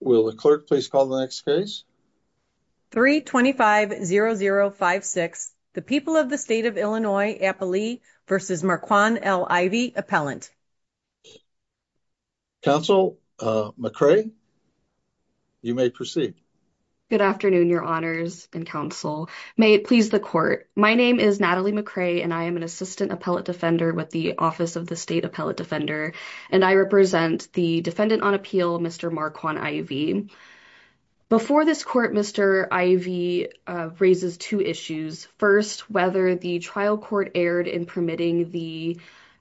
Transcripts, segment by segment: Will the clerk please call the next case? 325-0056, the people of the state of Illinois, Appalee v. Marquand L. Ivy, Appellant. Counsel McCray, you may proceed. Good afternoon, your honors and counsel. May it please the court. My name is Natalie McCray, and I am an Assistant Appellate Defender with the Office of the State Appellate Defender, and I represent the Defendant on Appeal, Mr. Marquand I.V. Before this court, Mr. I.V. raises two issues. First, whether the trial court erred in permitting the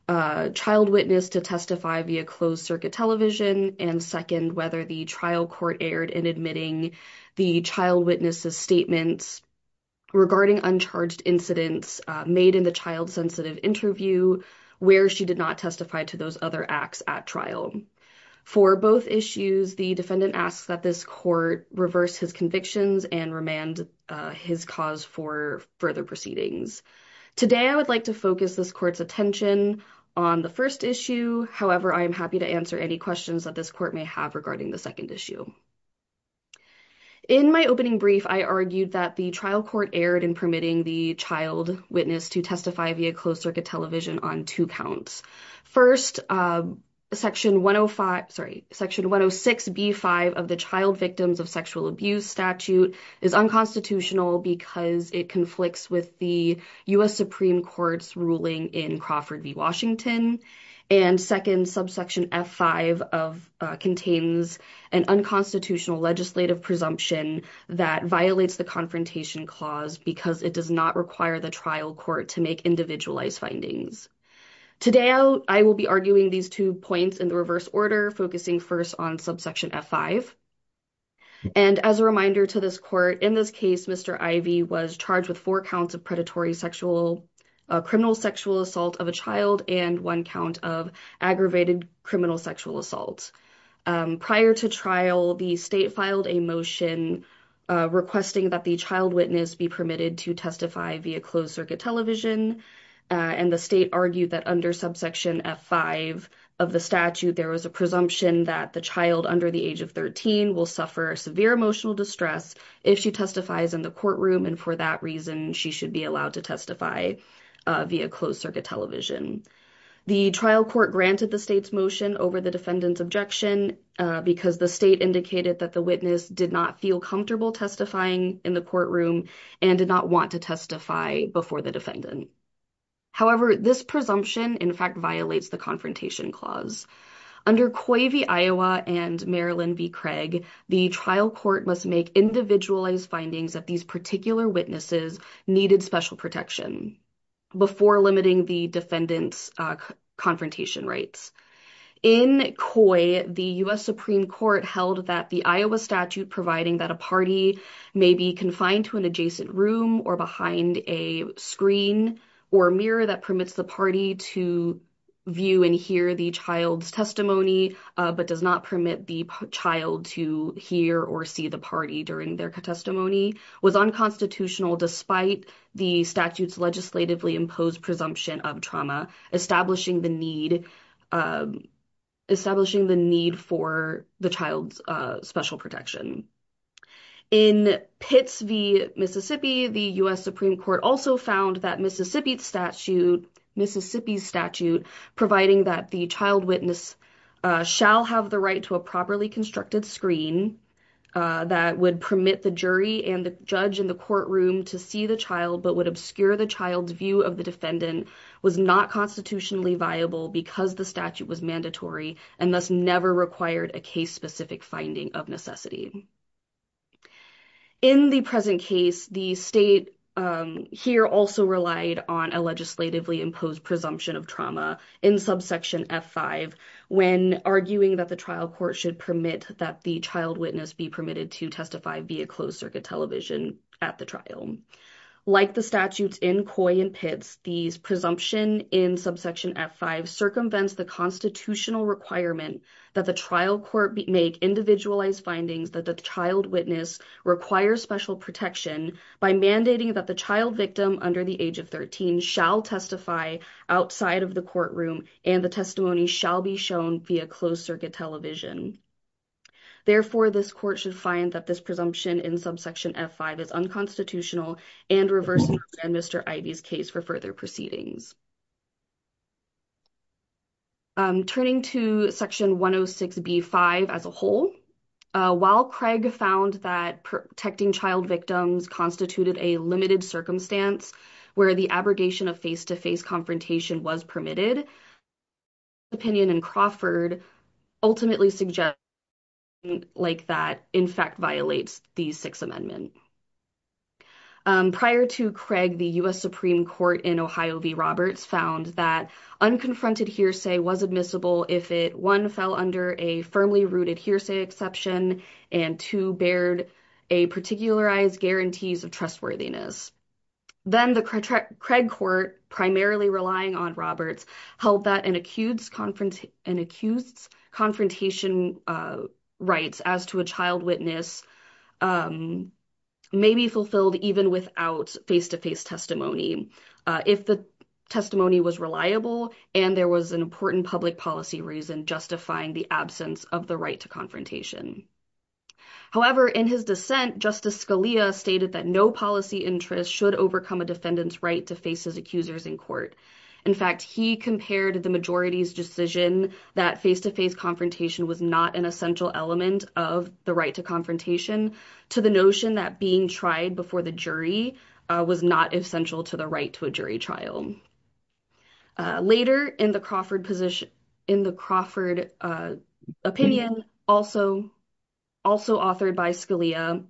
child witness to testify via closed circuit television, and second, whether the trial court erred in admitting the child witness's statements regarding uncharged incidents made in the child-sensitive interview where she did not testify to those other acts at trial. For both issues, the defendant asks that this court reverse his convictions and remand his cause for further proceedings. Today, I would like to focus this court's attention on the first issue. However, I am happy to answer any questions that this court may have regarding the second issue. In my opening brief, I argued that the trial court erred in permitting the child witness to testify via closed circuit television on two counts. First, Section 106b-5 of the Child Victims of Sexual Abuse Statute is unconstitutional because it conflicts with the U.S. Supreme Court's ruling in Crawford v. Washington, and second, Subsection F-5 contains an unconstitutional legislative presumption that violates the Confrontation Clause because it does not require the trial court to make individualized findings. Today, I will be arguing these two points in the reverse order, focusing first on Subsection F-5. And as a reminder to this court, in this case, Mr. Ivey was charged with four counts of predatory sexual, criminal sexual and one count of aggravated criminal sexual assault. Prior to trial, the state filed a motion requesting that the child witness be permitted to testify via closed circuit television, and the state argued that under Subsection F-5 of the statute, there was a presumption that the child under the age of 13 will suffer severe emotional distress if she testifies in the courtroom, and for that reason, she should be allowed to testify via closed circuit television. The trial court granted the state's motion over the defendant's objection because the state indicated that the witness did not feel comfortable testifying in the courtroom and did not want to testify before the defendant. However, this presumption, in fact, violates the Confrontation Clause. Under Coy v. Iowa and Marilyn v. Craig, the trial court must make individualized findings that these particular witnesses needed special protection before limiting the defendant's confrontation rights. In Coy, the U.S. Supreme Court held that the Iowa statute providing that a party may be confined to an adjacent room or behind a screen or mirror that permits the party to view and hear the child's testimony, but does not permit the child to hear or see the party during their testimony, was unconstitutional despite the statute's legislatively imposed presumption of trauma, establishing the need for the child's special protection. In Pitts v. Mississippi, the U.S. Supreme Court also found that Mississippi's state statute providing that the child witness shall have the right to a properly constructed screen that would permit the jury and the judge in the courtroom to see the child but would obscure the child's view of the defendant was not constitutionally viable because the statute was mandatory and thus never required a case-specific finding of necessity. In the present case, the state here also relied on a legislatively imposed presumption of trauma in subsection f5 when arguing that the trial court should permit that the child witness be permitted to testify via closed circuit television at the trial. Like the statutes in Coy and Pitts, these presumption in subsection f5 circumvents the constitutional requirement that the trial court make individualized findings that the child witness require special protection by mandating that the child victim under the age of 13 shall testify outside of the courtroom and the testimony shall be shown via closed circuit television. Therefore, this court should find that this presumption in subsection f5 is unconstitutional and reverse Mr. Ivey's case for further proceedings. Turning to section 106b5 as a whole, while Craig found that protecting child victims constituted a limited circumstance where the abrogation of face-to-face confrontation was permitted, opinion in Crawford ultimately suggests like that in fact violates the Sixth Amendment. Prior to Craig, the U.S. Supreme Court in Ohio v. Roberts found that unconfronted hearsay was admissible if it, one, fell under a firmly rooted hearsay exception and two, bared a particularized guarantees of trustworthiness. Then the Craig court, primarily relying on Roberts, held that an accused's confrontation rights as to a child witness may be fulfilled even without face-to-face testimony if the testimony was reliable and there was an important public policy reason justifying the absence of the right to confrontation. However, in his dissent, Justice Scalia stated that no policy interest should overcome a defendant's right to face his accusers in court. In fact, he compared the majority's decision that face-to-face confrontation was not an essential element of the right to confrontation to the notion that being tried before the jury was not essential to the right to a jury trial. Later in the Crawford opinion, also authored by Scalia,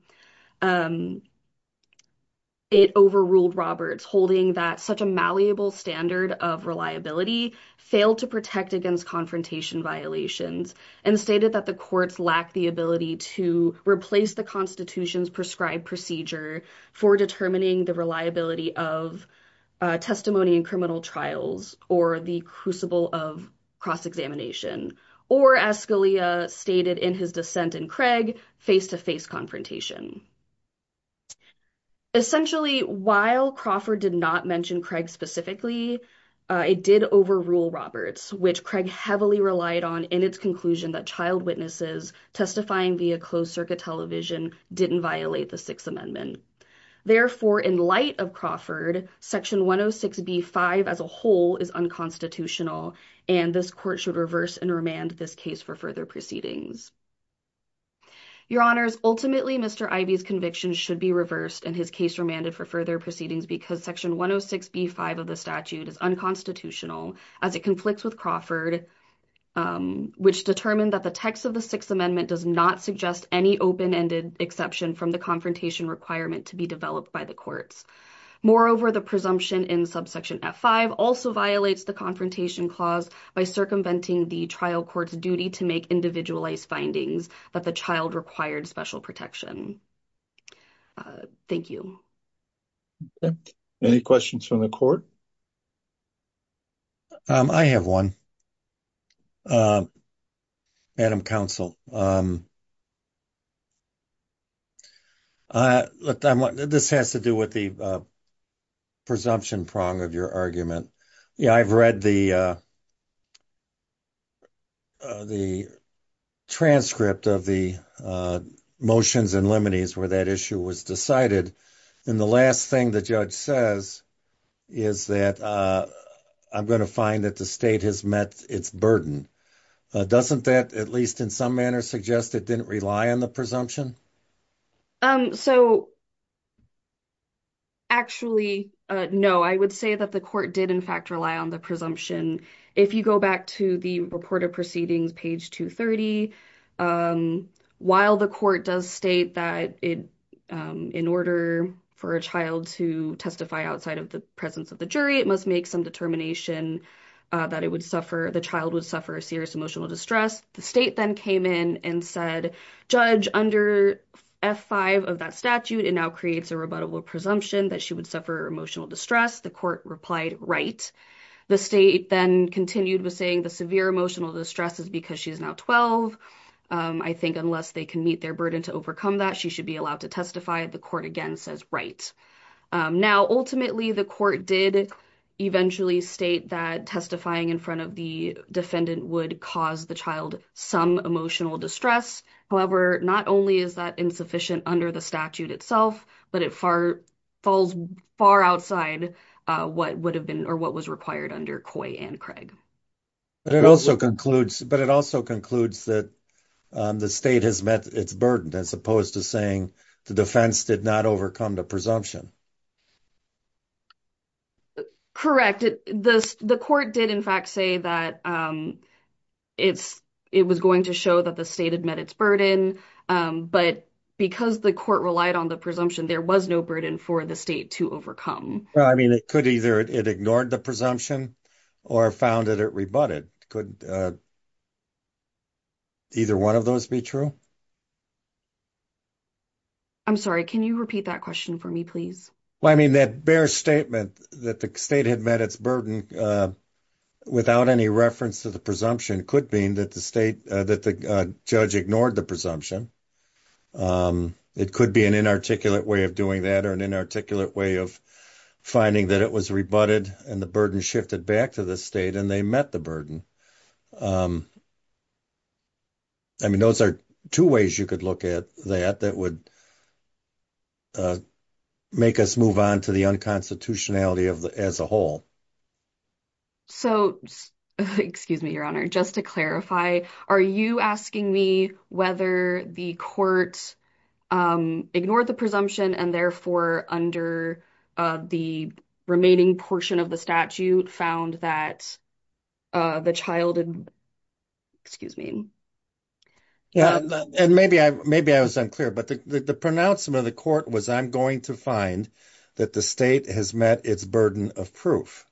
it overruled Roberts, holding that such a malleable standard of reliability failed to protect against confrontation violations and stated that the courts lack the ability to replace the Constitution's prescribed procedure for determining the reliability of testimony in criminal trials or the crucible of cross-examination or, as Scalia stated in his dissent in Craig, face-to-face confrontation. Essentially, while Crawford did not mention Craig specifically, it did overrule Roberts, which Craig heavily relied on in its conclusion that child witnesses testifying via closed-circuit television didn't violate the Sixth Amendment. Therefore, in light of Crawford, section 106b5 as a whole is unconstitutional and this court should reverse and remand this case for further proceedings. Your Honors, ultimately Mr. Ivey's conviction should be reversed and his case remanded for further proceedings because section 106b5 of the statute is unconstitutional as it conflicts with Crawford, which determined that the text of the Sixth Amendment does not suggest any open-ended exception from the confrontation requirement to be developed by the courts. Moreover, the presumption in subsection f5 also violates the confrontation clause by circumventing the trial court's duty to make individualized findings that the child required special protection. Thank you. Any questions from the court? I have one, Madam Counsel. This has to do with the presumption prong of your argument. Yeah, I've read the the transcript of the motions and liminis where that issue was decided and the last thing the judge says is that I'm going to find that the state has met its burden. Doesn't that, at least in some manner, suggest it didn't rely on the presumption? So, actually, no. I would say that the court did in fact rely on the presumption. If you go back to the report of proceedings, page 230, while the court does state that in order for a child to testify outside of the presence of the jury, it must make some determination that the child would suffer serious emotional distress, the state then came in and said, judge, under f5 of that statute, it now creates a rebuttable presumption that she would say the severe emotional distress is because she's now 12. I think unless they can meet their burden to overcome that, she should be allowed to testify. The court again says right. Now, ultimately, the court did eventually state that testifying in front of the defendant would cause the child some emotional distress. However, not only is that insufficient under the statute itself, but it falls far outside what would have been or what was required under Coy and Craig. But it also concludes that the state has met its burden as opposed to saying the defense did not overcome the presumption. Correct. The court did in fact say that it was going to show that the state had met its burden, but because the court relied on the presumption, there was no burden for the state to overcome. I mean, it could either it ignored the presumption or found that it rebutted. Could either one of those be true? I'm sorry, can you repeat that question for me, please? Well, I mean, that bare statement that the state had met its burden without any reference to the presumption could mean that the state that the judge ignored the presumption. It could be an inarticulate way of doing that or an inarticulate way of finding that it was rebutted and the burden shifted back to the state and they met the burden. I mean, those are two ways you could look at that that would make us move on to the unconstitutionality as a whole. So, excuse me, Your Honor, just to clarify, are you asking me whether the court ignored the presumption and therefore under the remaining portion of the statute found that the child, excuse me. Yeah, and maybe I was unclear, but the pronouncement of the court was, I'm going to find that the state has met its burden of proof.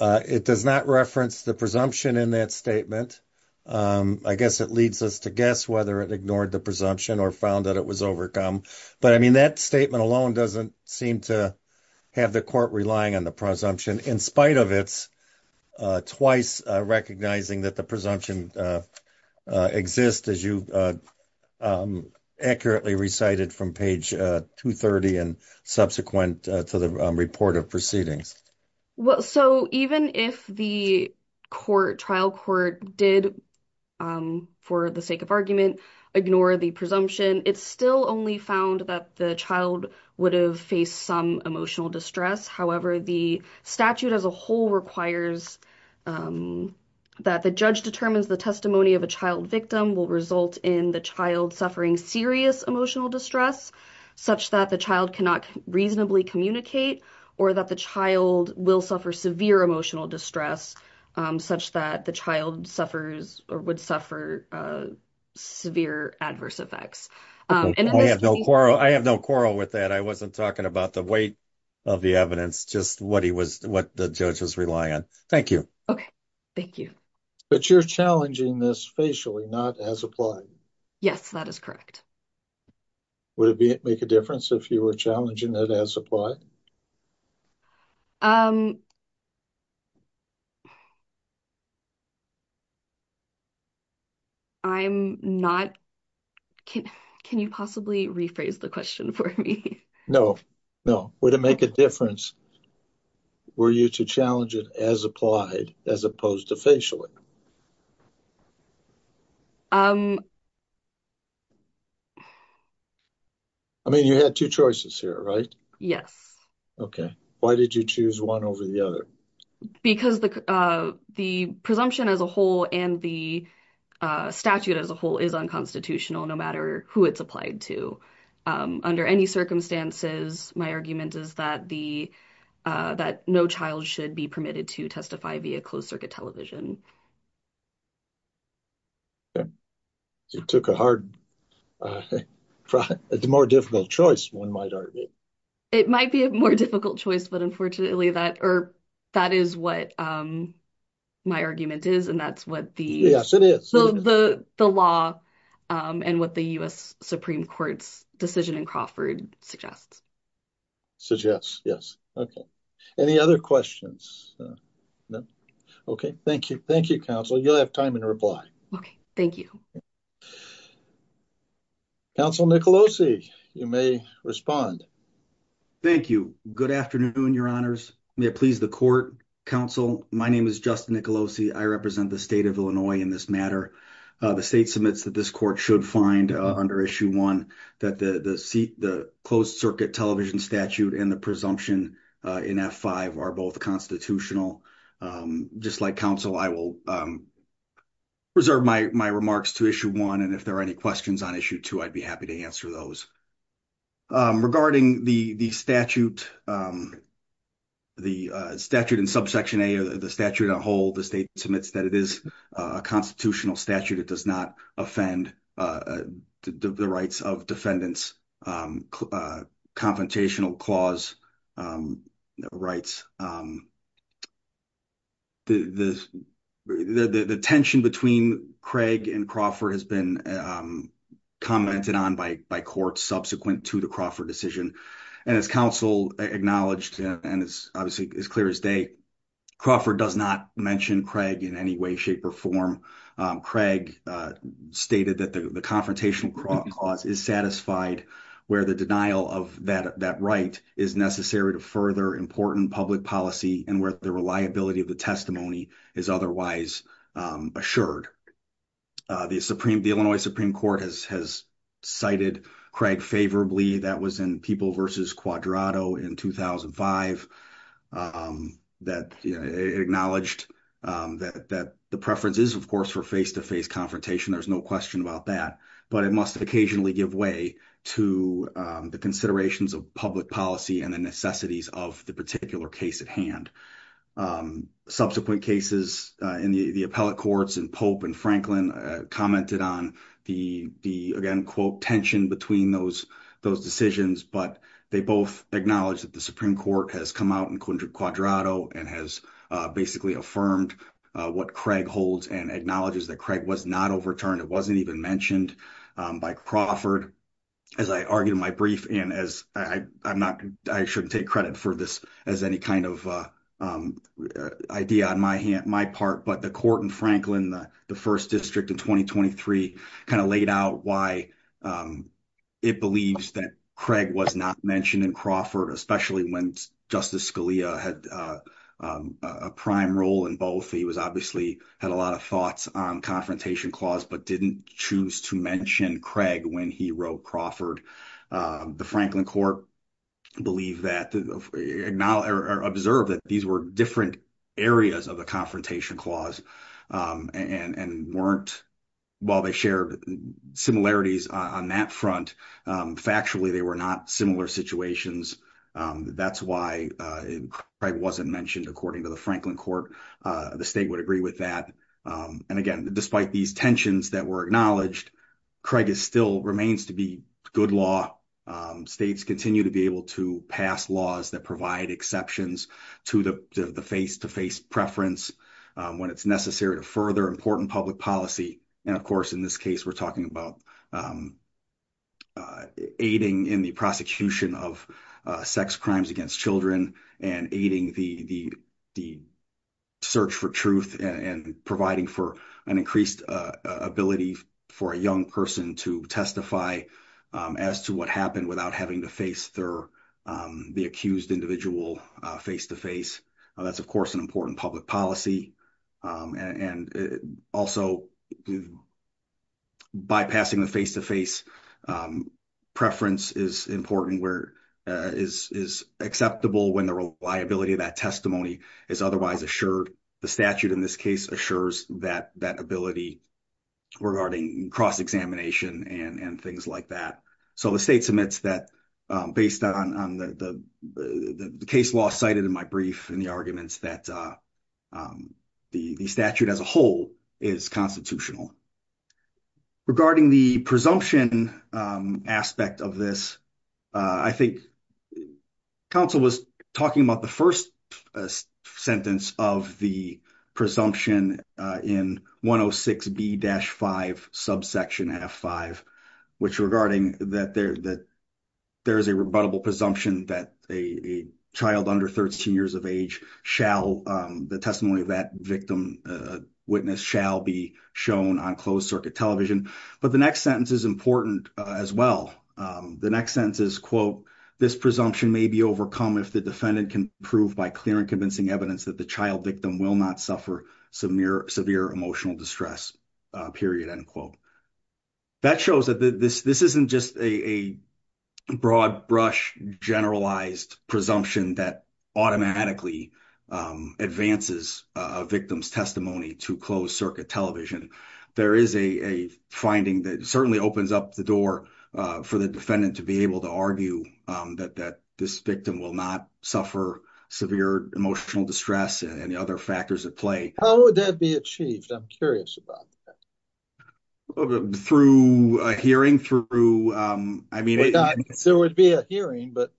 It does not reference the presumption in that statement. I guess it leads us to guess whether it ignored the presumption or found that it was overcome. But I mean, that statement alone doesn't seem to have the court relying on the presumption in spite of its twice recognizing that the presumption exists as you accurately recited from page 230 and subsequent to the report of proceedings. Well, so even if the trial court did, for the sake of argument, ignore the presumption, it still only found that the child would have faced some emotional distress. However, the statute as a whole requires that the judge determines the testimony of a child victim will result in the child suffering serious emotional distress such that the child cannot reasonably communicate or that the child will suffer severe emotional distress such that the child suffers or would suffer severe adverse effects. I have no quarrel with that. I wasn't talking about the weight of the evidence, just what the judge was relying on. Thank you. Okay, thank you. But you're challenging this facially, not as applied. Yes, that is correct. Would it make a difference if you were challenging it as applied? I'm not. Can you possibly rephrase the question for me? No, no. Would it make a difference were you to challenge it as applied as opposed to facially? I mean, you had two choices here, right? Yes. Okay. Why did you choose one over the other? Because the presumption as a whole and the statute as a whole is unconstitutional, no matter who it's applied to. Under any circumstances, my argument is that no child should be permitted to testify via closed circuit television. You took a hard, more difficult choice, one might argue. It might be a more difficult choice, but unfortunately that is what my argument is, and that's what the law and what the U.S. Supreme Court's decision in Crawford suggests. Suggests, yes. Okay. Any other questions? Okay. Thank you. Thank you, counsel. You'll have time in reply. Okay. Thank you. Counsel Nicolosi, you may respond. Thank you. Good afternoon, your honors. May it please the court, counsel. My name is Justin Nicolosi. I represent the state of Illinois in this matter. The state submits that this court should find under issue one that the closed circuit television statute and the presumption in F-5 are both constitutional. Just like counsel, I will reserve my remarks to issue one, and if there are any questions on issue two, I'd be happy to answer those. Regarding the statute, the statute in subsection A, the statute on hold, the state submits that it is a constitutional statute. It does not offend the rights of defendants, confrontational clause rights. The tension between Craig and Crawford has been commented on by courts subsequent to the Crawford decision. As counsel acknowledged, and it's obviously as clear as day, Crawford does not mention Craig in any way, shape, or form. Craig stated that the confrontational clause is satisfied where the denial of that right is necessary to further important public policy and where the reliability of the testimony is otherwise assured. The Illinois Supreme Court has cited Craig favorably. That was in People v. Quadrato in 2005. It acknowledged that the preference is, of course, for face-to-face confrontation. There's no question about that, but it must occasionally give way to the considerations of public policy and the necessities of the particular case at hand. Subsequent cases in the appellate courts in Pope and Franklin commented on the, again, quote, tension between those decisions, but they both acknowledged that the Supreme Court has come out in Quadrato and has basically affirmed what Craig holds and acknowledges that Craig was not overturned. It wasn't even mentioned by Crawford. As I argued in my brief, and I shouldn't take credit for this as any kind of idea on my part, but the court in Franklin, the first district in 2023, kind of laid out why it believes that Craig was not mentioned in Crawford, especially when Justice Scalia had a prime role in both. He obviously had a lot of thoughts on confrontation clause but didn't choose to mention Craig when he wrote Crawford. The Franklin court observed that these were different areas of the confrontation clause and weren't, while they shared similarities on that front, factually they were not similar situations. That's why Craig wasn't mentioned according to the Franklin court. The state would agree with that. And again, despite these tensions that were acknowledged, Craig still remains to be good law. States continue to be able to pass laws that provide exceptions to the face-to-face preference when it's necessary to further important public policy. And of course, in this case, we're talking about aiding in the prosecution of sex crimes against children and aiding the search for truth and providing for an increased ability for a young person to testify as to what happened without having to face the accused individual face-to-face. That's, of course, an important public policy. And also, bypassing the face-to-face preference is important, is acceptable when the reliability of that testimony is otherwise assured. The statute in this case assures that ability regarding cross-examination and things like that. So, the state submits that based on the case law cited in my brief and the arguments that the statute as a whole is constitutional. Regarding the presumption aspect of this, I think counsel was talking about the first sentence of the presumption in 106B-5, subsection F5, which regarding that there's a rebuttable presumption that a child under 13 years of age, the testimony of that victim witness shall be shown on closed circuit television. But the next sentence is important as well. The next sentence is, quote, this presumption may be overcome if the defendant can prove by clear and convincing evidence that the child victim will not suffer severe emotional distress, period, end quote. That shows that this isn't just a broad brush generalized presumption that automatically advances a victim's testimony to closed circuit television. There is a finding that certainly opens up the door for the defendant to be able to argue that this victim will not suffer severe emotional distress and the other factors at play. How would that be achieved? I'm curious about that. Through a hearing? So, it would be a hearing, but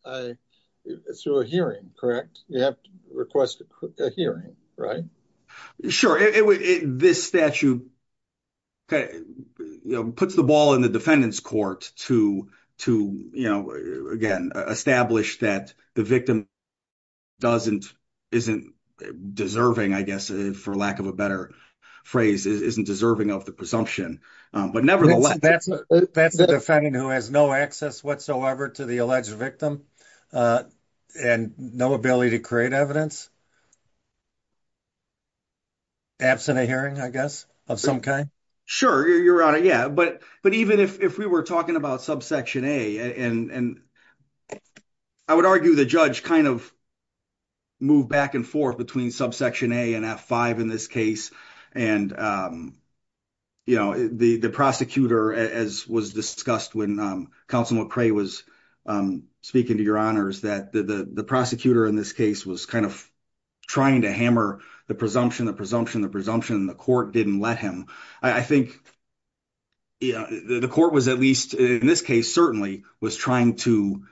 through a hearing, correct? You have to request a hearing, right? Sure. This statute puts the ball in the defendant's court to, again, establish that the victim isn't deserving, I guess, for lack of a better phrase, isn't deserving of the presumption. That's the defendant who has no access whatsoever to the alleged victim and no ability to create evidence? Absent a hearing, I guess, of some kind? Sure, Your Honor, yeah. But even if we were talking about subsection A, and I would argue the judge kind of moved back and forth between subsection A and F5 in this case. And, you know, the prosecutor, as was discussed when Counsel McRae was speaking to Your Honors, that the prosecutor in this case was kind of trying to hammer the presumption, the presumption, the presumption, and the court didn't let him. I think the court was, at least in this case, certainly was trying to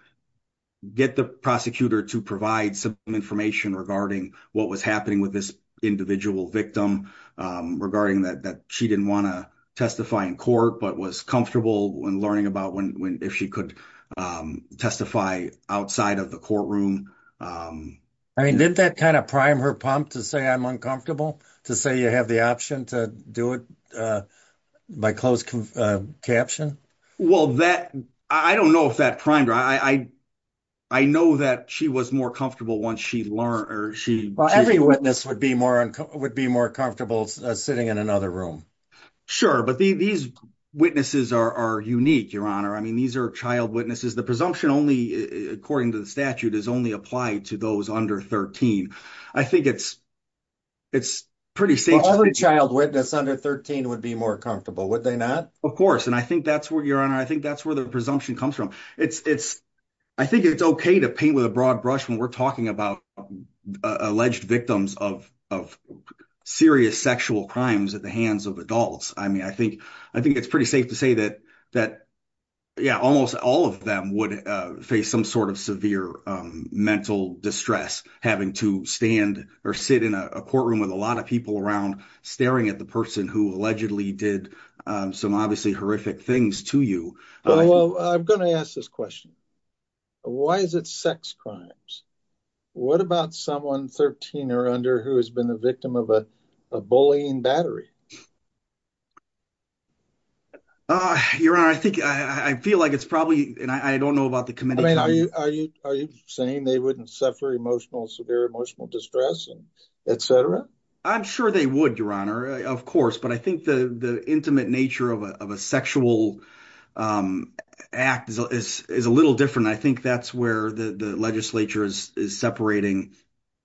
get the prosecutor to provide some information regarding what was happening with this individual victim, regarding that she didn't want to testify in court, but was comfortable in learning about if she could testify outside of the courtroom. I mean, did that kind of prime her pump to say, I'm uncomfortable, to say you have the option to do it by closed caption? Well, I don't know if that primed her. I know that she was more comfortable once she learned. Well, every witness would be more comfortable sitting in another room. Sure. But these witnesses are unique, Your Honor. I mean, these are child witnesses. The presumption only, according to the statute, is only applied to those under 13. I think it's pretty safe. All the child witnesses under 13 would be more comfortable, would they not? Of course. And I think that's where, Your Honor, I think that's where the presumption comes from. It's, I think it's okay to paint with a broad brush when we're talking about alleged victims of serious sexual crimes at the hands of adults. I mean, I think it's pretty safe to say that, yeah, almost all of them would face some sort of severe mental distress having to stand or sit in a courtroom with a lot of people around staring at the person who allegedly did some obviously horrific things to you. Well, I'm going to ask this question. Why is it sex crimes? What about someone 13 or under who has been a victim of a bullying battery? Your Honor, I think, I feel like it's probably, and I don't know about the committee. Are you saying they wouldn't suffer emotional, severe emotional distress, etc.? I'm sure they would, Your Honor, of course. But I think the intimate nature of a sexual act is a little different. I think that's where the legislature is separating.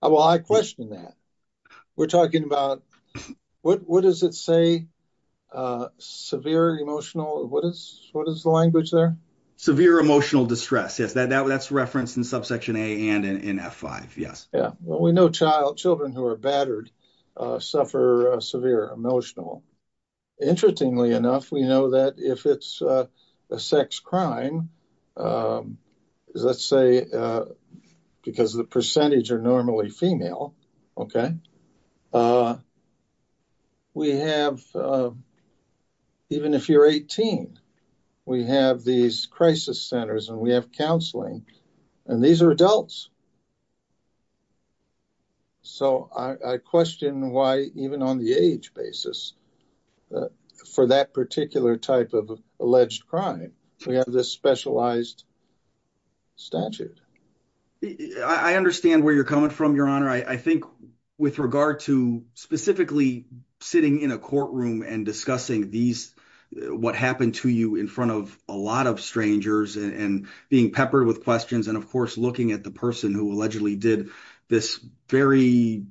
Well, I question that. We're talking about, what does it say? Severe emotional, what is the language there? Severe emotional distress, yes. That's referenced in subsection A and in F5, yes. Yeah. Well, we know children who are battered suffer severe emotional. Interestingly enough, we know that if it's a sex crime, let's say because the percentage are normally female, we have, even if you're 18, we have these crisis centers and we have counseling, and these are for adults. So I question why, even on the age basis, for that particular type of alleged crime, we have this specialized statute. I understand where you're coming from, Your Honor. I think with regard to specifically sitting in a courtroom and discussing these, what happened to you in front of a lot of strangers and being peppered with questions, and of course, looking at the person who allegedly did this very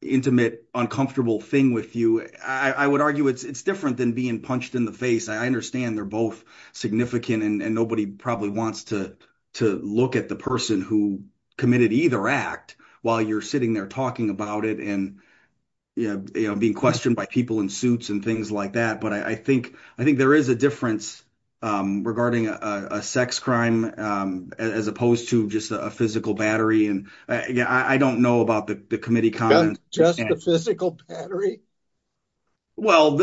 intimate, uncomfortable thing with you, I would argue it's different than being punched in the face. I understand they're both significant and nobody probably wants to look at the person who committed either act while you're sitting there talking about it and being questioned by people in suits and things like that. But I think there is a difference regarding a sex crime as opposed to just a physical battery. I don't know about the committee comment. Just the physical battery? Well,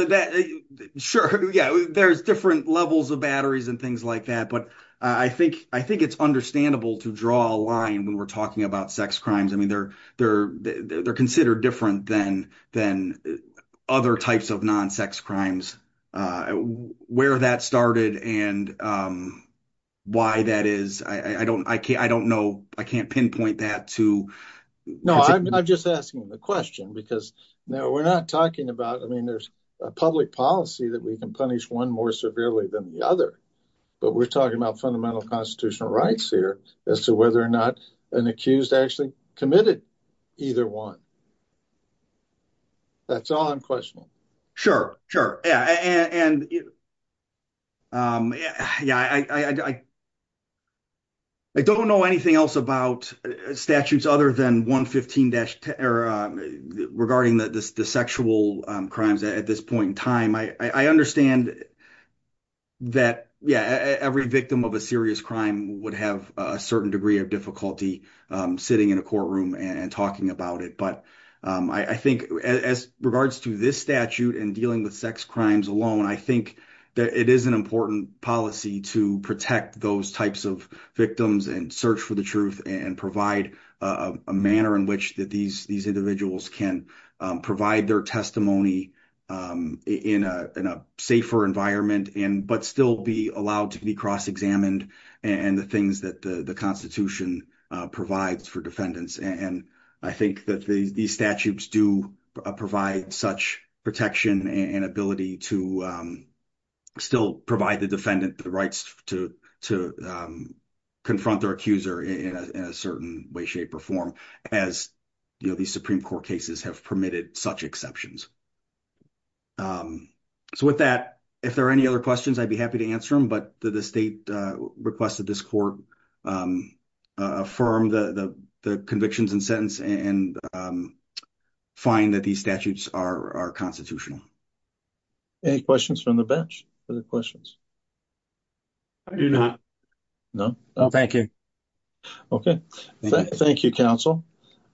sure, yeah, there's different levels of batteries and things like that, but I think it's understandable to draw a line when we're talking about sex crimes. I mean, they're considered different than other types of non-sex crimes. Where that started and why that is, I can't pinpoint that. No, I'm just asking the question because we're not talking about, I mean, there's a public policy that we can punish one more severely than the other, but we're talking about fundamental constitutional rights here as to whether or not an accused actually committed either one. That's all I'm questioning. Sure, sure. I don't know anything else about statutes other than 115-10 regarding the sexual crimes at this point in time. I understand that every victim of a serious crime would have a certain degree of difficulty sitting in a courtroom and talking about it, but I think as regards to this statute and dealing with sex crimes alone, I think that it is an important policy to protect those types of victims and search for the truth and provide a manner in which these individuals can provide their testimony in a safer environment, but still be cross-examined and the things that the Constitution provides for defendants. I think that these statutes do provide such protection and ability to still provide the defendant the rights to confront their accuser in a certain way, shape, or form as these Supreme Court cases have permitted such exceptions. So, with that, if there are any other questions, I'd be happy to answer them, but did the state request that this court affirm the convictions and sentence and find that these statutes are constitutional? Any questions from the bench? Are there questions? I do not. No? No, thank you. Okay. Thank you, counsel.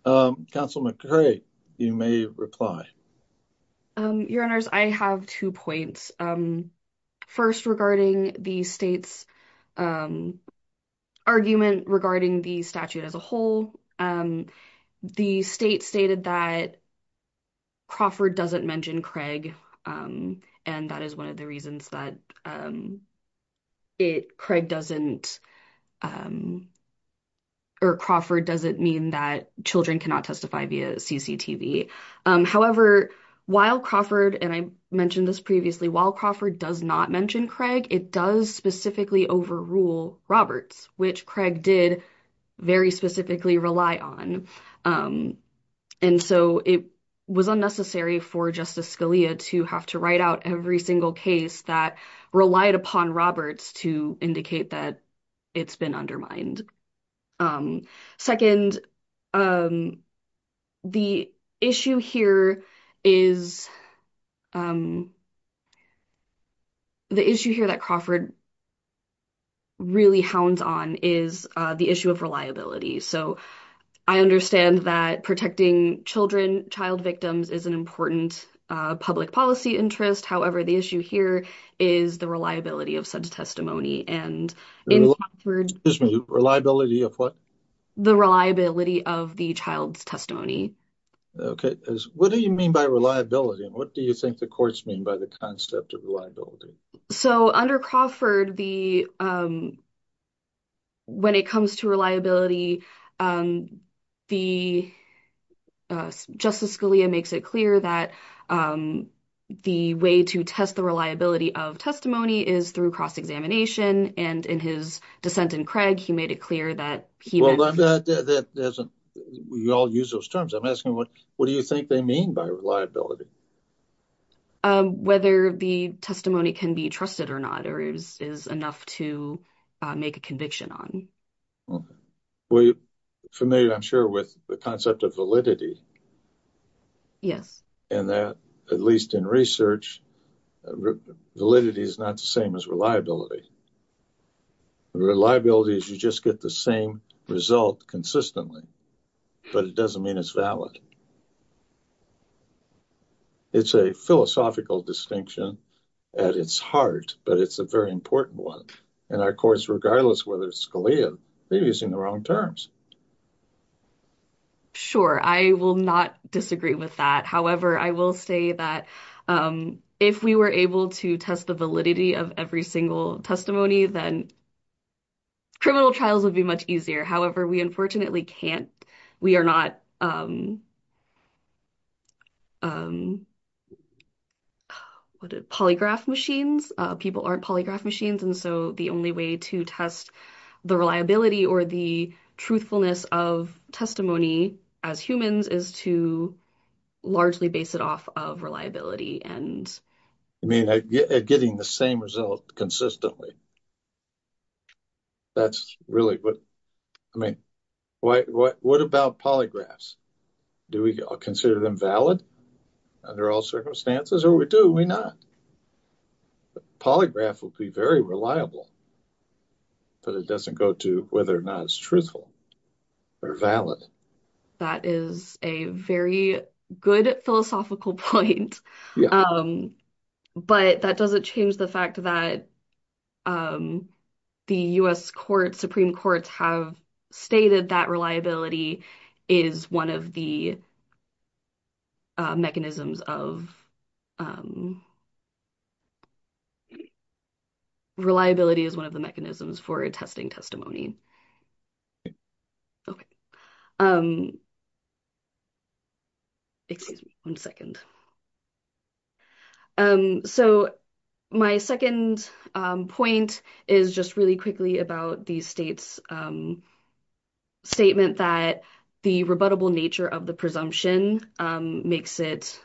Counsel McCrae, you may reply. Your Honors, I have two points. First, regarding the state's argument regarding the statute as a whole. The state stated that Crawford doesn't mention Craig, and that is one of the reasons that it, Craig doesn't, or Crawford doesn't mean that children cannot testify via CCTV. However, while Crawford, and I mentioned this previously, while Crawford does not mention Craig, it does specifically overrule Roberts, which Craig did very specifically rely on. And so, it was unnecessary for Justice Scalia to have to write out every single case that relied upon Roberts to indicate that it's been undermined. Second, the issue here is, the issue here that Crawford really hounds on is the issue of reliability. So, I understand that protecting children, child victims is an important public policy interest. However, the issue here is the reliability of said testimony. And in Crawford, Excuse me, reliability of what? The reliability of the child's testimony. Okay. What do you mean by reliability? And what do you think the courts mean by the concept of reliability? So, under Crawford, when it comes to reliability, the Justice Scalia makes it clear that the way to test the reliability of testimony is through cross-examination. And in his dissent in Craig, he made it clear that he Well, you all use those terms. I'm asking, what do you think they mean by reliability? Whether the testimony can be trusted or not, or is enough to make a conviction on. Okay. We're familiar, I'm sure, with the concept of validity. Yes. And that, at least in research, validity is not the same as reliability. Reliability is you just get the same result consistently, but it doesn't mean it's valid. It's a philosophical distinction at its heart, but it's a very important one. And our courts, regardless whether it's Scalia, they're using the wrong terms. Sure, I will not disagree with that. However, I will say that if we were able to test the validity of every single testimony, then criminal trials would be much easier. However, we unfortunately can't. We are not polygraph machines. People aren't polygraph machines. And so the only way to test the reliability or the truthfulness of testimony as humans is to largely base it off of reliability. I mean, getting the same result consistently, that's really what—I mean, what about polygraphs? Do we consider them valid under all circumstances? Or do we not? The polygraph will be very reliable, but it doesn't go to whether or not it's truthful or valid. That is a very good philosophical point, but that doesn't change the fact that the U.S. Supreme Courts have stated that reliability is one of the mechanisms of—reliability is one of the mechanisms for testing testimony. Okay, excuse me one second. So my second point is just really quickly about the state's statement that the rebuttable nature of the presumption makes it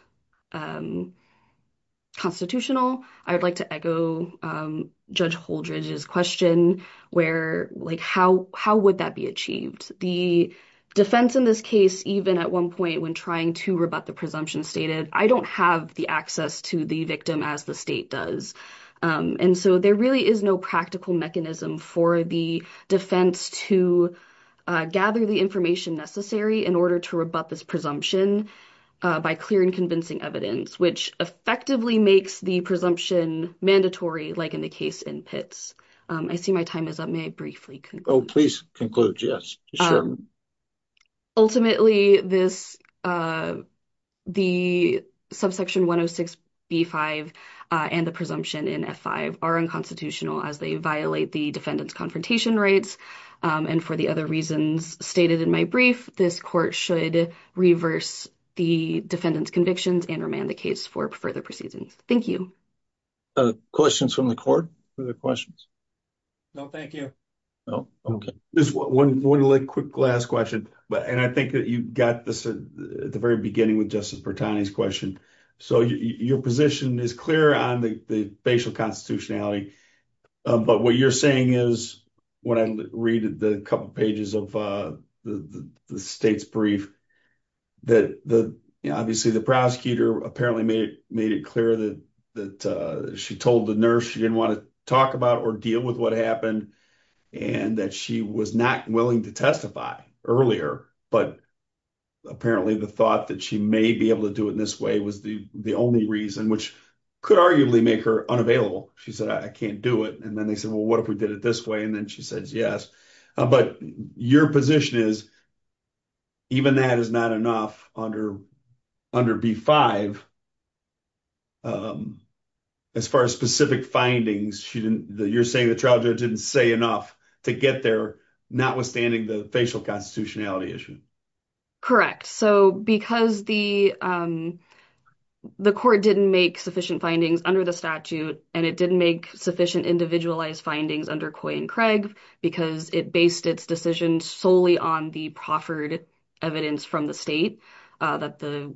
constitutional. I would like to echo Judge Holdred's question where, like, how would that be achieved? The defense in this case, even at one point when trying to rebut the presumption, stated, I don't have the access to the victim as the state does. And so there really is no practical mechanism for the defense to gather the information necessary in order to rebut this presumption by clear and convincing evidence, which effectively makes the presumption mandatory, like in the case in Pitts. I see my time is up. May I briefly conclude? Oh, please conclude. Yes, sure. Ultimately, the subsection 106b-5 and the presumption in F-5 are unconstitutional as they violate the defendant's confrontation rights. And for the other reasons stated in my brief, this court should reverse the defendant's convictions and remand the case for further proceedings. Thank you. Questions from the court? Further questions? No, thank you. No? Okay. Just one quick last question. And I think that you got this at the very beginning with Justice Bertani's question. So your position is clear on the facial constitutionality. But what you're saying is, when I read the couple pages of the state's brief, that obviously the prosecutor apparently made it clear that she told the nurse she didn't want to talk about or deal with what happened, and that she was not willing to testify earlier. But apparently the thought that she may be able to do it in this way was the only reason, which could arguably make her unavailable. She said, I can't do it. And then they said, well, what if we did it this way? And then she says, yes. But your position is, even that is not enough under B-5. As far as specific findings, you're saying the trial judge didn't say enough to get there, notwithstanding the facial constitutionality issue. Correct. So because the court didn't make sufficient findings under the statute, and it didn't make sufficient individualized findings under Coy and Craig, because it based its decision solely on the proffered evidence from the state, that the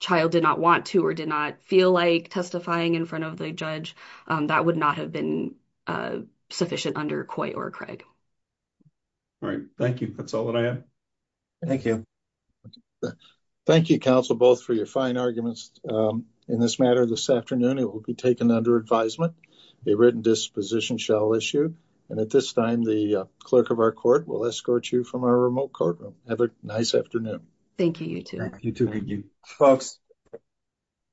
child did not want to or did not feel like testifying in front of the judge, that would not have been sufficient under Coy or Craig. All right. Thank you. That's all that I have. Thank you. Thank you, counsel, both for your fine arguments. In this matter, this afternoon, it will be taken under advisement. A written disposition shall issue. And at this time, the clerk of our court will escort you from our remote courtroom. Have a nice afternoon. Thank you, you too. You too. Thank you. Folks.